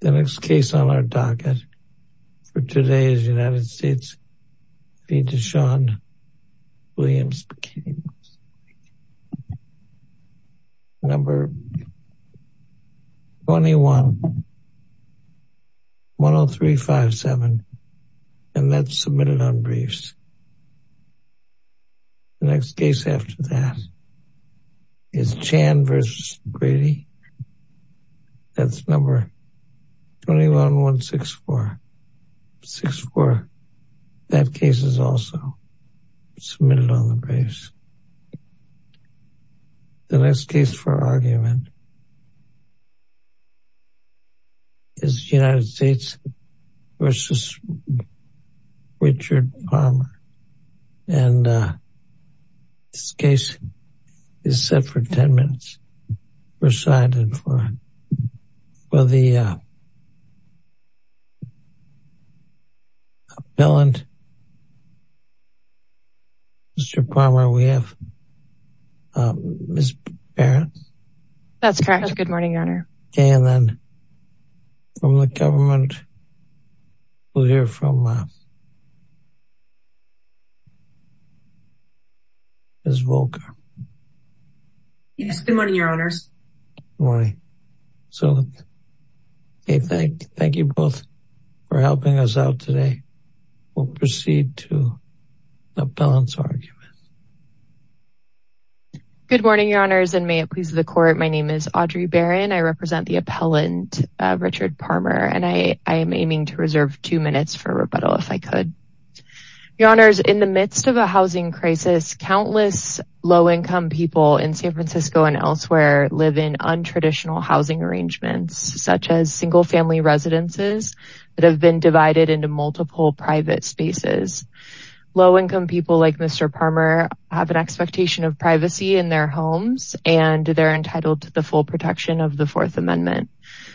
The next case on our docket for today is United States v. Deshaun Williams. Case number 21-10357 and that's submitted on briefs. The next case after that is Chan v. Grady. That's number 21-164-64. That case is also submitted on the briefs. The next case for argument is United States v. Richard Parmer and this case is set for 10 minutes. We're signing for for the bill and Mr. Parmer we have Ms. Barrett. That's correct. Good morning, your honor. Okay and then from the government we'll hear from Ms. Volker. Yes, good morning, your honors. Good morning. So hey, thank you both for helping us out today. We'll proceed to the appellant's argument. Good morning, your honors and may it please the court. My name is Audrey Barron. I represent the appellant Richard Parmer and I am aiming to reserve two minutes for rebuttal if I could. Your honors, in the midst of a housing crisis countless low-income people in San Francisco and elsewhere live in untraditional housing arrangements such as single-family residences that have been divided into multiple private spaces. Low-income people like Mr. Parmer have an expectation of privacy in their homes and they're entitled to the full protection of the fourth amendment.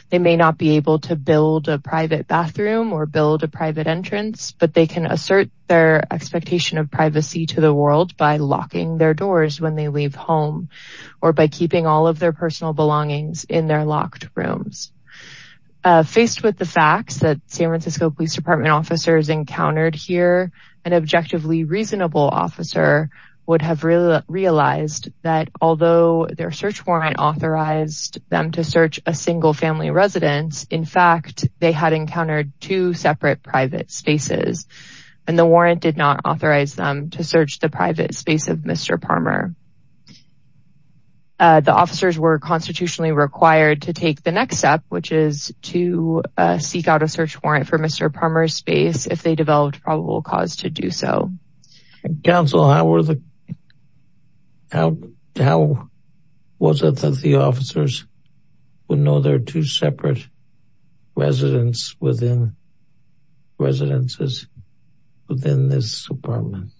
They may not be able to build a private bathroom or build a private entrance but they can assert their expectation of privacy to the world by locking their doors when they leave home or by keeping all of their personal belongings in their locked rooms. Faced with the facts that San Francisco Police Department officers encountered here an objectively reasonable officer would have realized that although their search warrant authorized them to search a single family residence in fact they had encountered two separate private spaces and the warrant did not authorize them to search the private space of Mr. Parmer. The officers were constitutionally required to take the next step which is to seek out a search warrant for Mr. Parmer's space if they developed probable cause to do so. Counsel how were the how how was it that the officers would know there are two separate residents within residences within this department?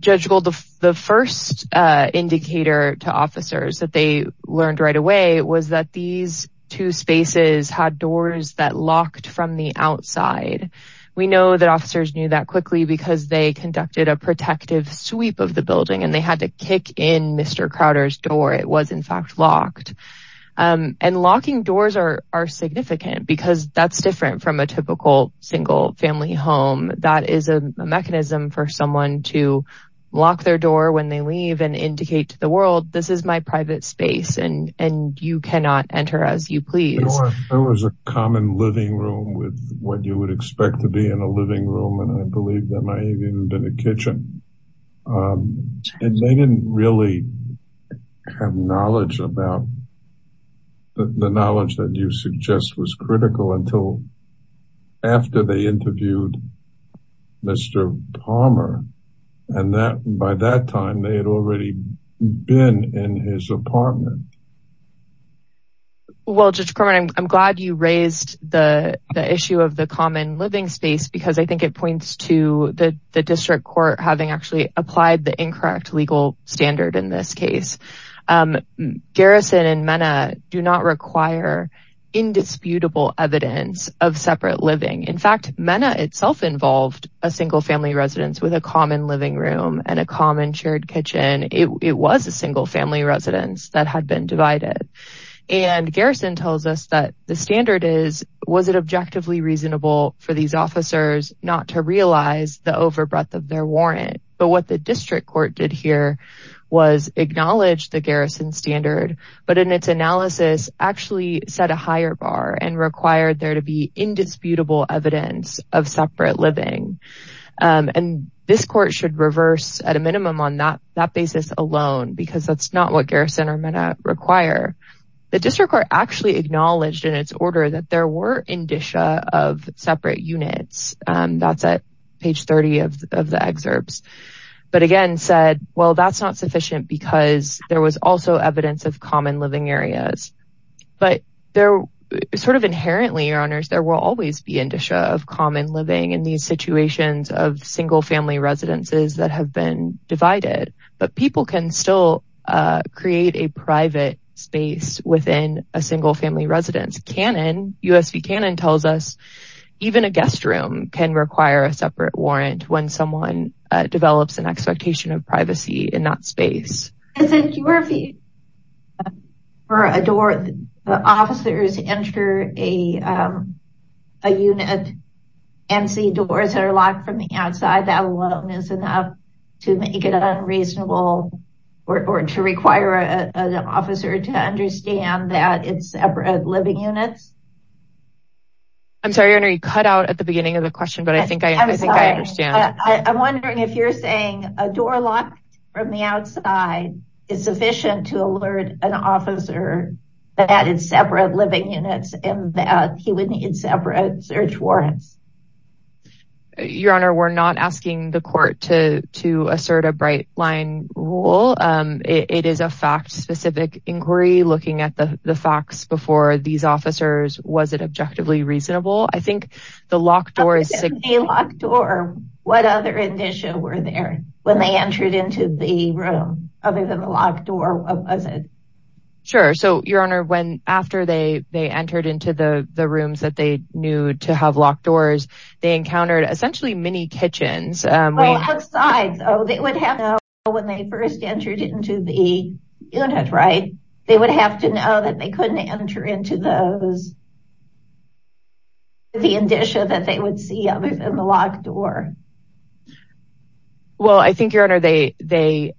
Judge, well the first indicator to officers that they learned right away was that these two spaces had doors that locked from the outside. We know that officers knew that quickly because they conducted a protective sweep of the building and they had to kick in Mr. Crowder's door. It was locked and locking doors are significant because that's different from a typical single family home. That is a mechanism for someone to lock their door when they leave and indicate to the world this is my private space and you cannot enter as you please. There was a common living room with what you would expect to be in a living room and I believe a kitchen and they didn't really have knowledge about the knowledge that you suggest was critical until after they interviewed Mr. Parmer and that by that time they had already been in his apartment. Well Judge Corman, I'm glad you raised the the issue of the common living space because I think it points to the district court having actually applied the incorrect legal standard in this case. Garrison and Mena do not require indisputable evidence of separate living. In fact, Mena itself involved a single family residence with a common living room and a common shared kitchen. It was a single family residence that had been divided and Garrison tells us that the the overbreath of their warrant but what the district court did here was acknowledge the Garrison standard but in its analysis actually set a higher bar and required there to be indisputable evidence of separate living and this court should reverse at a minimum on that that basis alone because that's not what Garrison or Mena require. The district court actually acknowledged in its order that there were indicia of separate units. That's at page 30 of the excerpts but again said well that's not sufficient because there was also evidence of common living areas but there sort of inherently your honors there will always be indicia of common living in these situations of single family residences that have been divided but people can still create a private space within a single family residence. USV Cannon tells us even a guest room can require a separate warrant when someone develops an expectation of privacy in that space. I think you were for a door the officers enter a a unit and see doors that are outside that alone is enough to make it unreasonable or to require an officer to understand that it's separate living units. I'm sorry you cut out at the beginning of the question but I think I think I understand. I'm wondering if you're saying a door locked from the outside is sufficient to alert an officer that it's separate living units and that he would need search warrants. Your honor we're not asking the court to to assert a bright line rule. It is a fact specific inquiry looking at the the facts before these officers was it objectively reasonable. I think the locked door is a locked door. What other indicia were there when they entered into the room other than the locked door? What was it? Sure so your honor when after they they entered into the the rooms that they knew to have locked doors they encountered essentially mini kitchens. They would have when they first entered into the unit right they would have to know that they couldn't enter into those the indicia that they would see other than the locked door. Well I think your honor they they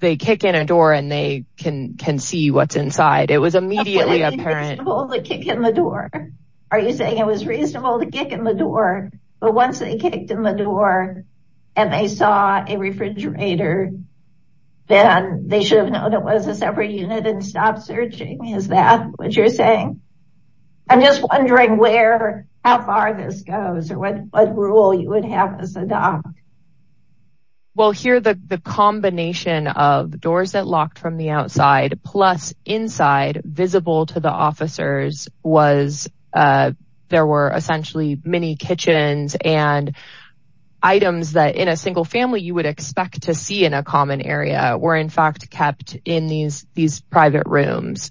they kick in a door and they can can see what's inside. It was immediately apparent to kick in the door. Are you saying it was reasonable to kick in the door but once they kicked in the door and they saw a refrigerator then they should have known it was a separate unit and stopped searching. Is that what you're saying? I'm just wondering where how far this goes or what what rule you would have as a doc. Well here the the combination of inside visible to the officers was there were essentially mini kitchens and items that in a single family you would expect to see in a common area were in fact kept in these these private rooms.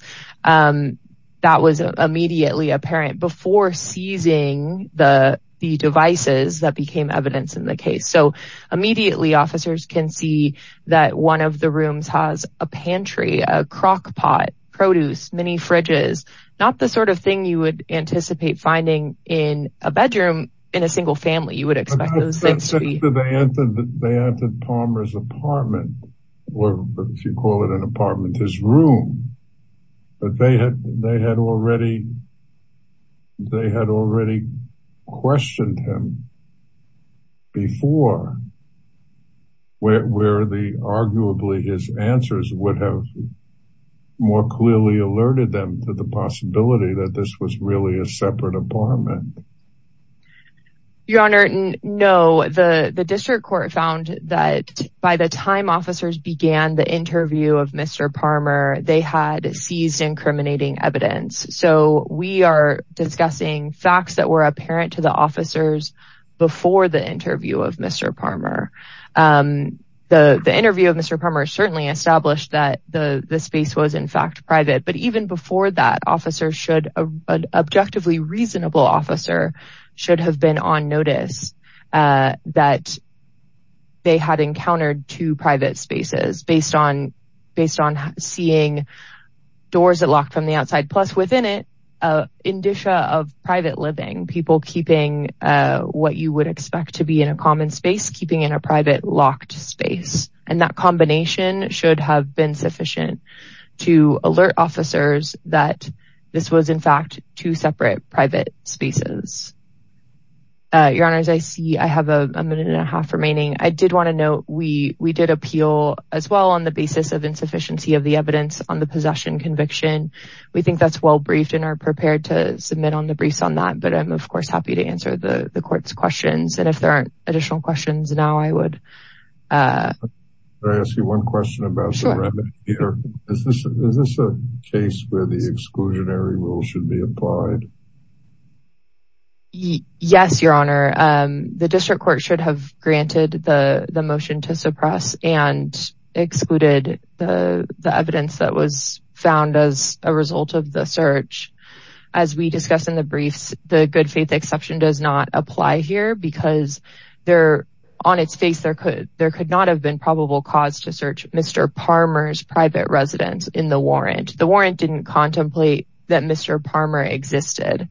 That was immediately apparent before seizing the the devices that became evidence in the case. So immediately officers can see that one of the rooms has a pantry, a crock pot, produce, mini fridges. Not the sort of thing you would anticipate finding in a bedroom in a single family you would expect. They entered Palmer's apartment or if you call it an apartment his room but they had they had already they had already questioned him before where the arguably his answers would have more clearly alerted them to the possibility that this was really a separate apartment. Your honor no the the district court found that by the time officers began the interview of Mr. Palmer they had seized incriminating evidence. So we are discussing facts that were apparent to the officers before the interview of Mr. Palmer. The the interview of Mr. Palmer certainly established that the the space was in fact private but even before that officer should a objectively reasonable officer should have been on notice that they had encountered two private spaces based on based on seeing doors that locked from the outside plus within it a indicia of private living people keeping what you would expect to be in a common space keeping in a private locked space and that combination should have been sufficient to alert officers that this was in fact two separate private spaces. Your honors I see I have a minute and a half remaining. I did want to note we we did appeal as well on the basis of insufficiency of the evidence on the possession conviction. We think that's well briefed and are prepared to submit on the briefs on that but I'm of course happy to answer the the court's questions and if there aren't additional questions now I would. Can I ask you one question about the remedy here? Is this a case where the exclusionary should be applied? Yes your honor the district court should have granted the the motion to suppress and excluded the the evidence that was found as a result of the search. As we discussed in the briefs the good faith exception does not apply here because there on its face there could there could not have been probable cause to search Mr. Palmer's private residence in the warrant. The existed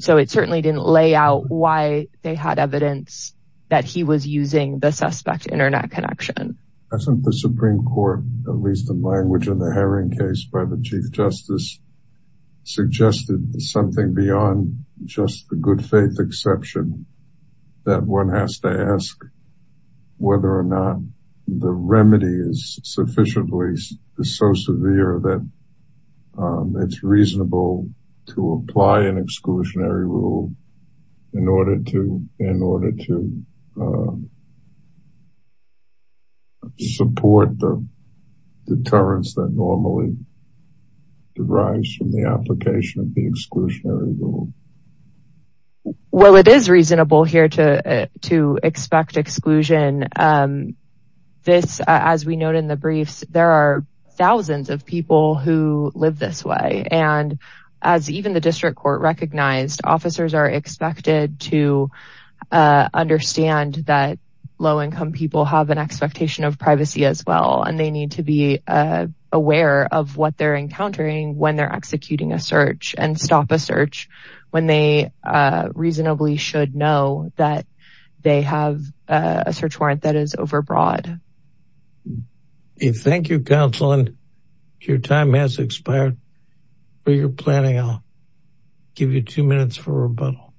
so it certainly didn't lay out why they had evidence that he was using the suspect internet connection. Hasn't the supreme court at least in language in the Herring case by the chief justice suggested something beyond just the good faith exception that one has to ask whether or not the remedy is sufficiently so severe that it's reasonable to apply an exclusionary rule in order to in order to support the deterrence that normally derives from the application of the exclusionary rule. Well it is reasonable here to to expect exclusion. This as we note in the briefs there are thousands of people who live this way and as even the district court recognized officers are expected to understand that low-income people have an expectation of privacy as well and they need to be aware of what they're encountering when they're executing a search and stop a search when they reasonably should know that they have a search warrant that is overbroad. Thank you counsel and your time has expired for your planning. I'll give you two minutes for rebuttal.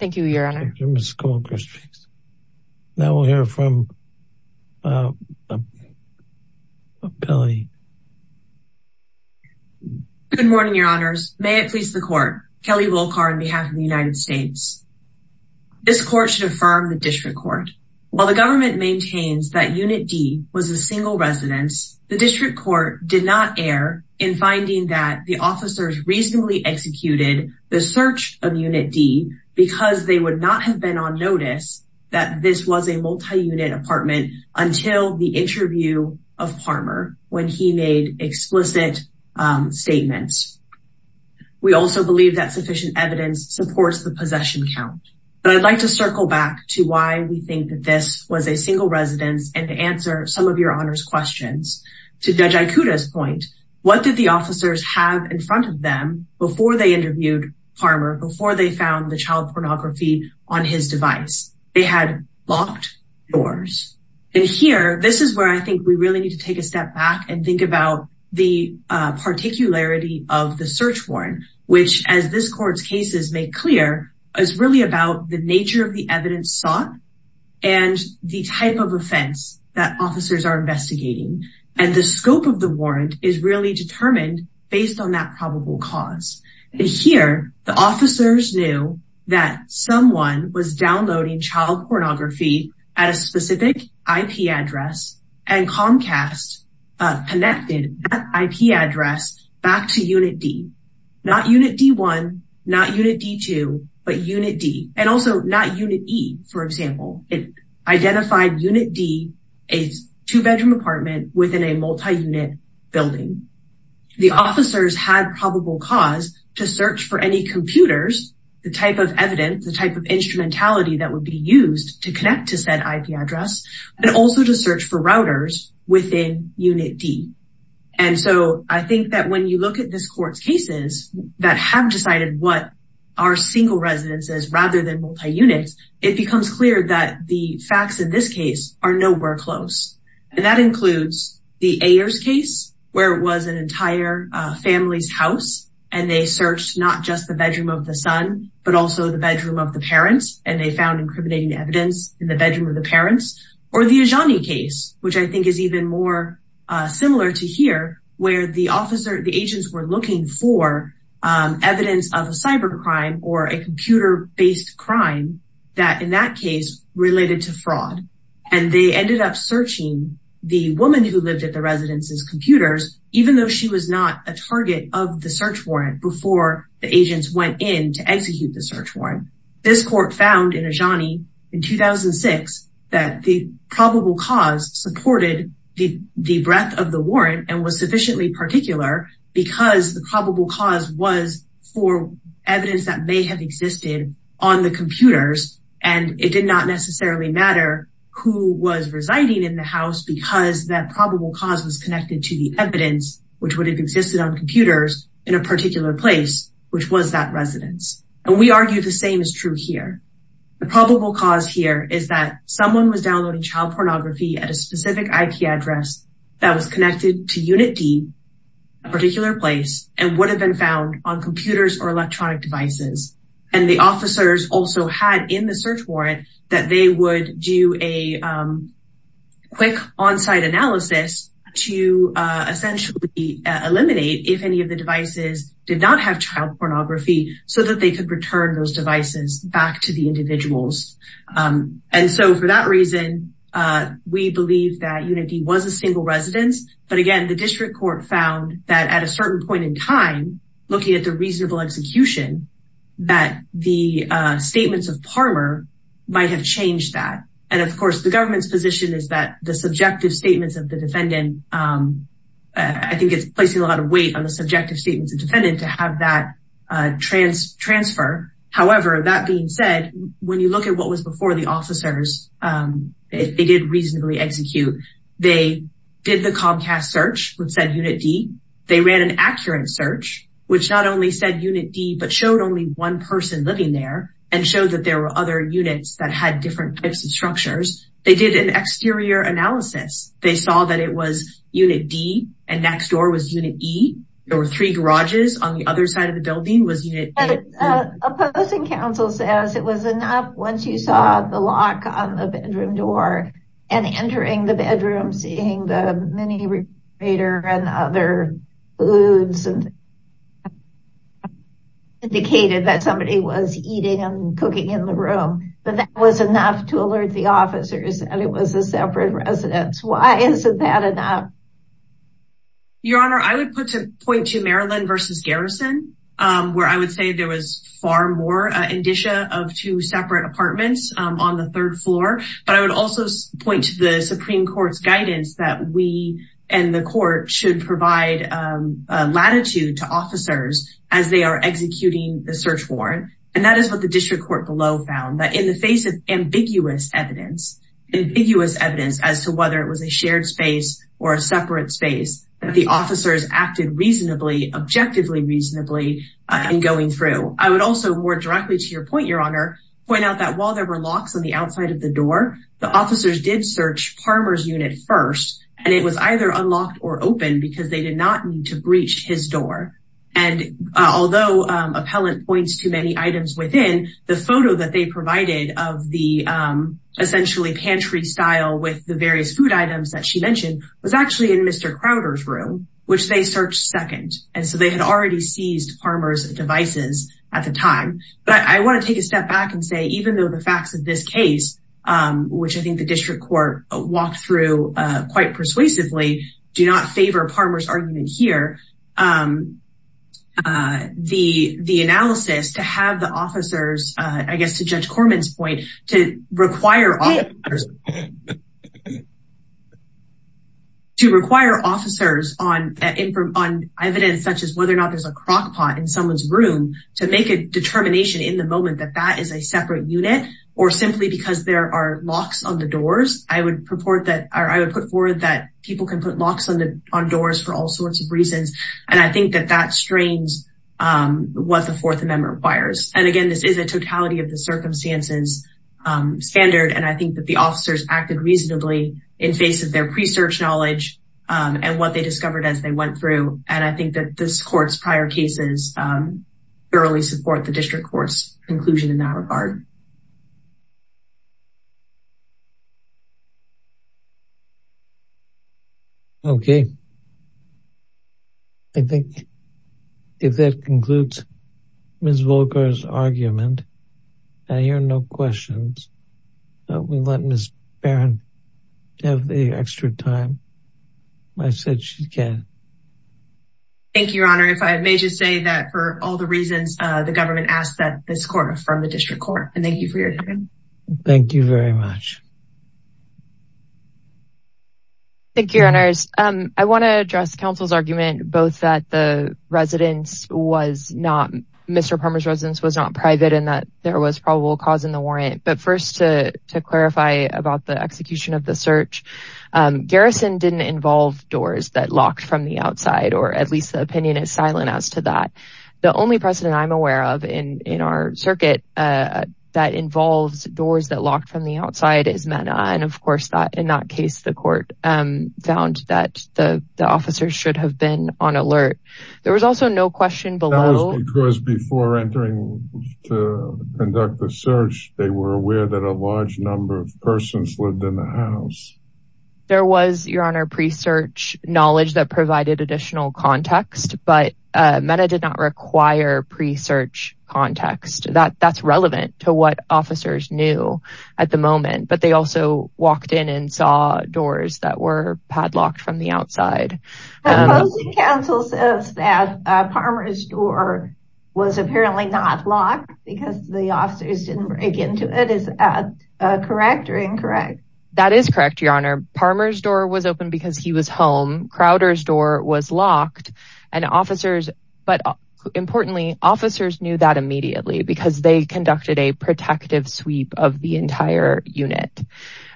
Thank you your honor. Now we'll hear from uh um Billy. Good morning your honors. May it please the court. Kelly Wolkar on behalf of the United States. This court should affirm the district court. While the government maintains that unit D was a single residence, the district court did not err in finding that the officers reasonably executed the search of unit D because they would not have been on notice that this was a multi-unit apartment until the interview of Parmer when he made explicit statements. We also believe that sufficient evidence supports the possession count but I'd like to circle back to why we think that this was a single residence and to answer some of your honors questions. To Judge Ikuda's point, what did the officers have in front of them before they interviewed Parmer, before they found the and here this is where I think we really need to take a step back and think about the uh particularity of the search warrant which as this court's cases make clear is really about the nature of the evidence sought and the type of offense that officers are investigating and the scope of the warrant is really determined based on that probable cause and here the officers knew that someone was downloading child pornography at a specific IP address and Comcast connected that IP address back to unit D. Not unit D1, not unit D2, but unit D and also not unit E for example. It identified unit D as a two-bedroom apartment within a multi-unit building. The officers had to search for any computers the type of evidence the type of instrumentality that would be used to connect to said IP address and also to search for routers within unit D and so I think that when you look at this court's cases that have decided what are single residences rather than multi-units it becomes clear that the facts in this case are nowhere close and that includes the Ayers case where it was an entire family's house and they searched not just the bedroom of the son but also the bedroom of the parents and they found incriminating evidence in the bedroom of the parents or the Ajani case which I think is even more similar to here where the officer the agents were looking for evidence of a cyber crime or a computer-based crime that in that case related to even though she was not a target of the search warrant before the agents went in to execute the search warrant this court found in Ajani in 2006 that the probable cause supported the the breadth of the warrant and was sufficiently particular because the probable cause was for evidence that may have existed on the computers and it did not necessarily matter who was residing in the house because that probable cause was connected to the evidence which would have existed on computers in a particular place which was that residence and we argue the same is true here the probable cause here is that someone was downloading child pornography at a specific IP address that was connected to unit D a particular place and would have been found on computers or electronic devices and the officers also had in the search warrant that they would do a quick on-site analysis to essentially eliminate if any of the devices did not have child pornography so that they could return those devices back to the individuals and so for that reason we believe that unit D was a single residence but again the district court found that at a certain point in time looking at the reasonable execution that the statements of Palmer might have changed that and of course the government's position is that the subjective statements of the defendant I think it's placing a lot of weight on the subjective statements of defendant to have that transfer however that being said when you look at what was before the officers if they did reasonably execute they did the Comcast search which said unit D they ran an accurate search which not only said unit D but showed only one person living there and showed that there were other units that had different types of structures they did an exterior analysis they saw that it was unit D and next door was unit E there were three garages on the other side of the building was unit A opposing counsel says it was enough once you saw the lock on the bedroom door and entering the bedroom seeing the mini recreator and other foods and indicated that somebody was eating and cooking in the room but that was enough to alert the officers and it was a separate residence why isn't that enough your honor I would put to point to Maryland versus Garrison where I would say there was far more indicia of two separate apartments on the third floor but I would also point to the supreme court's guidance that we and the court should provide latitude to officers as they are executing the search warrant and that is what the district court below found that in the face of ambiguous evidence ambiguous evidence as to whether it was a shared space or a separate space the officers acted reasonably objectively reasonably in going through I would also more directly to your point your honor point out that while there were locks on the outside of the door the officers did search Parmer's unit first and it was either unlocked or open because they did not need to breach his door and although appellant points to many items within the photo that they provided of the essentially pantry style with the various food items that she mentioned was actually in Mr. Crowder's room which they searched second and so they had already seized Parmer's devices at the time but I want to take a step back and say even though the facts of this case which I think the district court walked through quite persuasively do not favor Parmer's argument here the the analysis to have the officers I guess to judge Corman's point to require to require officers on evidence such as whether or not there's a crock pot in someone's room to make a determination in the moment that that is a separate unit or simply because there are locks on the doors I would purport that I would put forward that people can put locks on the on doors for all sorts of reasons and I think that that strains what the fourth amendment requires and again this is a totality of the circumstances standard and I think that the officers acted reasonably in face of their pre-search knowledge and what they discovered as they went through and I think that this court's prior cases thoroughly support the district court's conclusion in that regard. Okay I think if that concludes Ms. Volker's argument I hear no questions but we let Ms. Barron have the extra time I said she can. Thank you your honor if I may just say that for all the reasons the government asked that this from the district court and thank you for your time. Thank you very much. Thank you your honors I want to address council's argument both that the residence was not Mr. Parmer's residence was not private and that there was probable cause in the warrant but first to to clarify about the execution of the search garrison didn't involve doors that locked from the outside or at least the opinion is silent as to that the only precedent I'm aware of in our circuit that involves doors that locked from the outside is MENA and of course that in that case the court found that the officers should have been on alert. There was also no question below because before entering to conduct the search they were aware that a large number of persons lived in the house. There was your honor pre-search knowledge that provided additional context but MENA did not require pre-search context that that's relevant to what officers knew at the moment but they also walked in and saw doors that were padlocked from the outside. Council says that Parmer's door was apparently not locked because the officers didn't break into it is that correct or incorrect? That is correct your honor Parmer's door was open because he was home Crowder's door was locked and officers but importantly officers knew that immediately because they conducted a protective sweep of the entire unit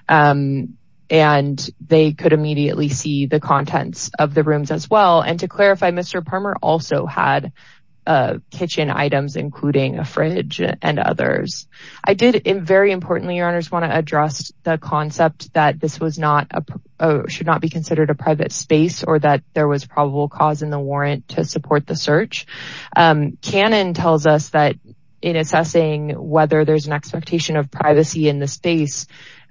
and they could immediately see the contents of the rooms as well and to clarify Mr. Parmer also had kitchen items including a fridge and others. I did in very importantly your honors want to address the concept that this was not a should not be considered a private space or that there was probable cause in the warrant to support the search. Cannon tells us that in assessing whether there's an expectation of privacy in the space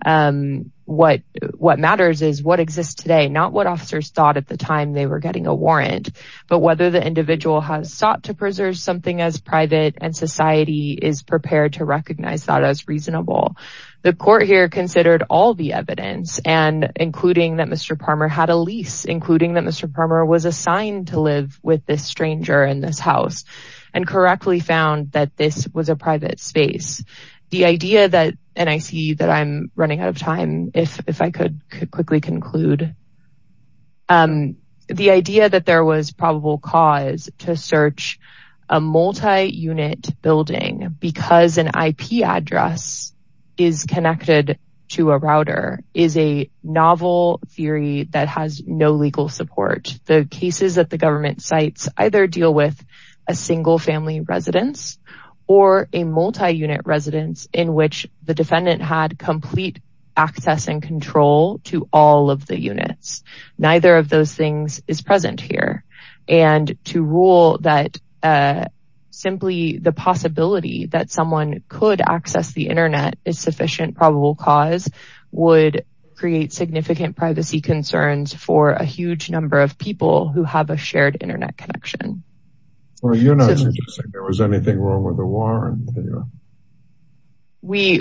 what matters is what exists today not what officers thought at the time they were getting a warrant but whether the individual has sought to preserve something as private and society is prepared to recognize that as reasonable. The court here considered all the evidence and including that Mr. Parmer had a lease including that Mr. Parmer was assigned to live with this stranger in this house and correctly found that this was a private space. The idea that and I see that I'm running out of time if I could quickly conclude the idea that there was probable cause to search a multi-unit building because an IP address is connected to a router is a novel theory that has no legal support. The cases that the government cites either deal with a single family residence or a multi-unit residence in which the defendant had complete access and control to all of the units. Neither of those things is present here and to rule that simply the possibility that someone could access the internet is sufficient probable cause would create significant privacy concerns for a huge number of people who have a shared internet connection. Well you're not suggesting there was anything wrong with the warrant. We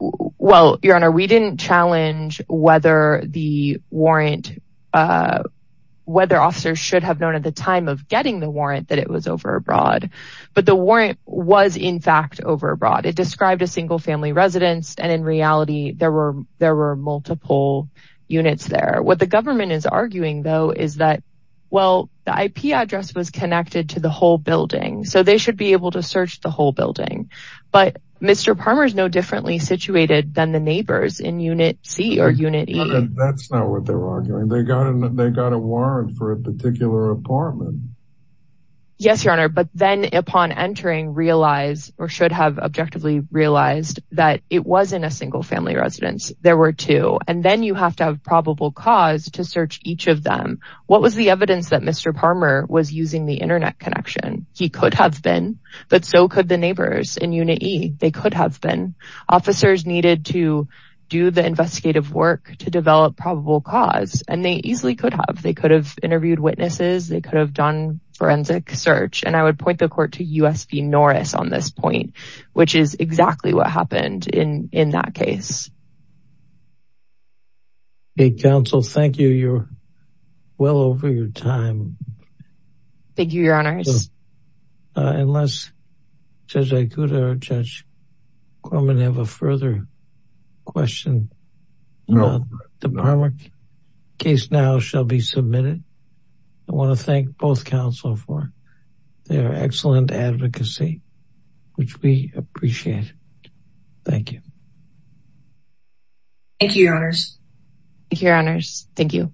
well your honor we didn't challenge whether the warrant whether officers should have known at the time of getting the warrant that it was over abroad but the warrant was in fact over abroad. It described a single family residence and in reality there were there were multiple units there. What the government is arguing though is that well the IP address was connected to the whole building so they should be able to search the whole building but Mr. Parmer is no differently situated than the neighbors in unit c or unit e. That's not what they were arguing they got a warrant for a particular apartment. Yes your honor but then upon entering realize or should have objectively realized that it wasn't a single family residence there were two and then you have to have probable cause to search each of them. What was the evidence that Mr. Parmer was using the internet connection? He could have been but so could the neighbors in unit e. They could have been officers needed to do the investigative work to develop probable cause and they easily could have they could have interviewed witnesses they could have done forensic search and I would point the court to U.S. v Norris on this point which is exactly what happened in in that case. Okay counsel thank you you're well over your time. Thank you your honors. Unless Judge Ikuda or Judge Corman have a further question? No. The Parmer case now shall be submitted. I want to thank both counsel for their excellent advocacy which we appreciate. Thank you. Thank you your honors. Thank you your honors. Thank you.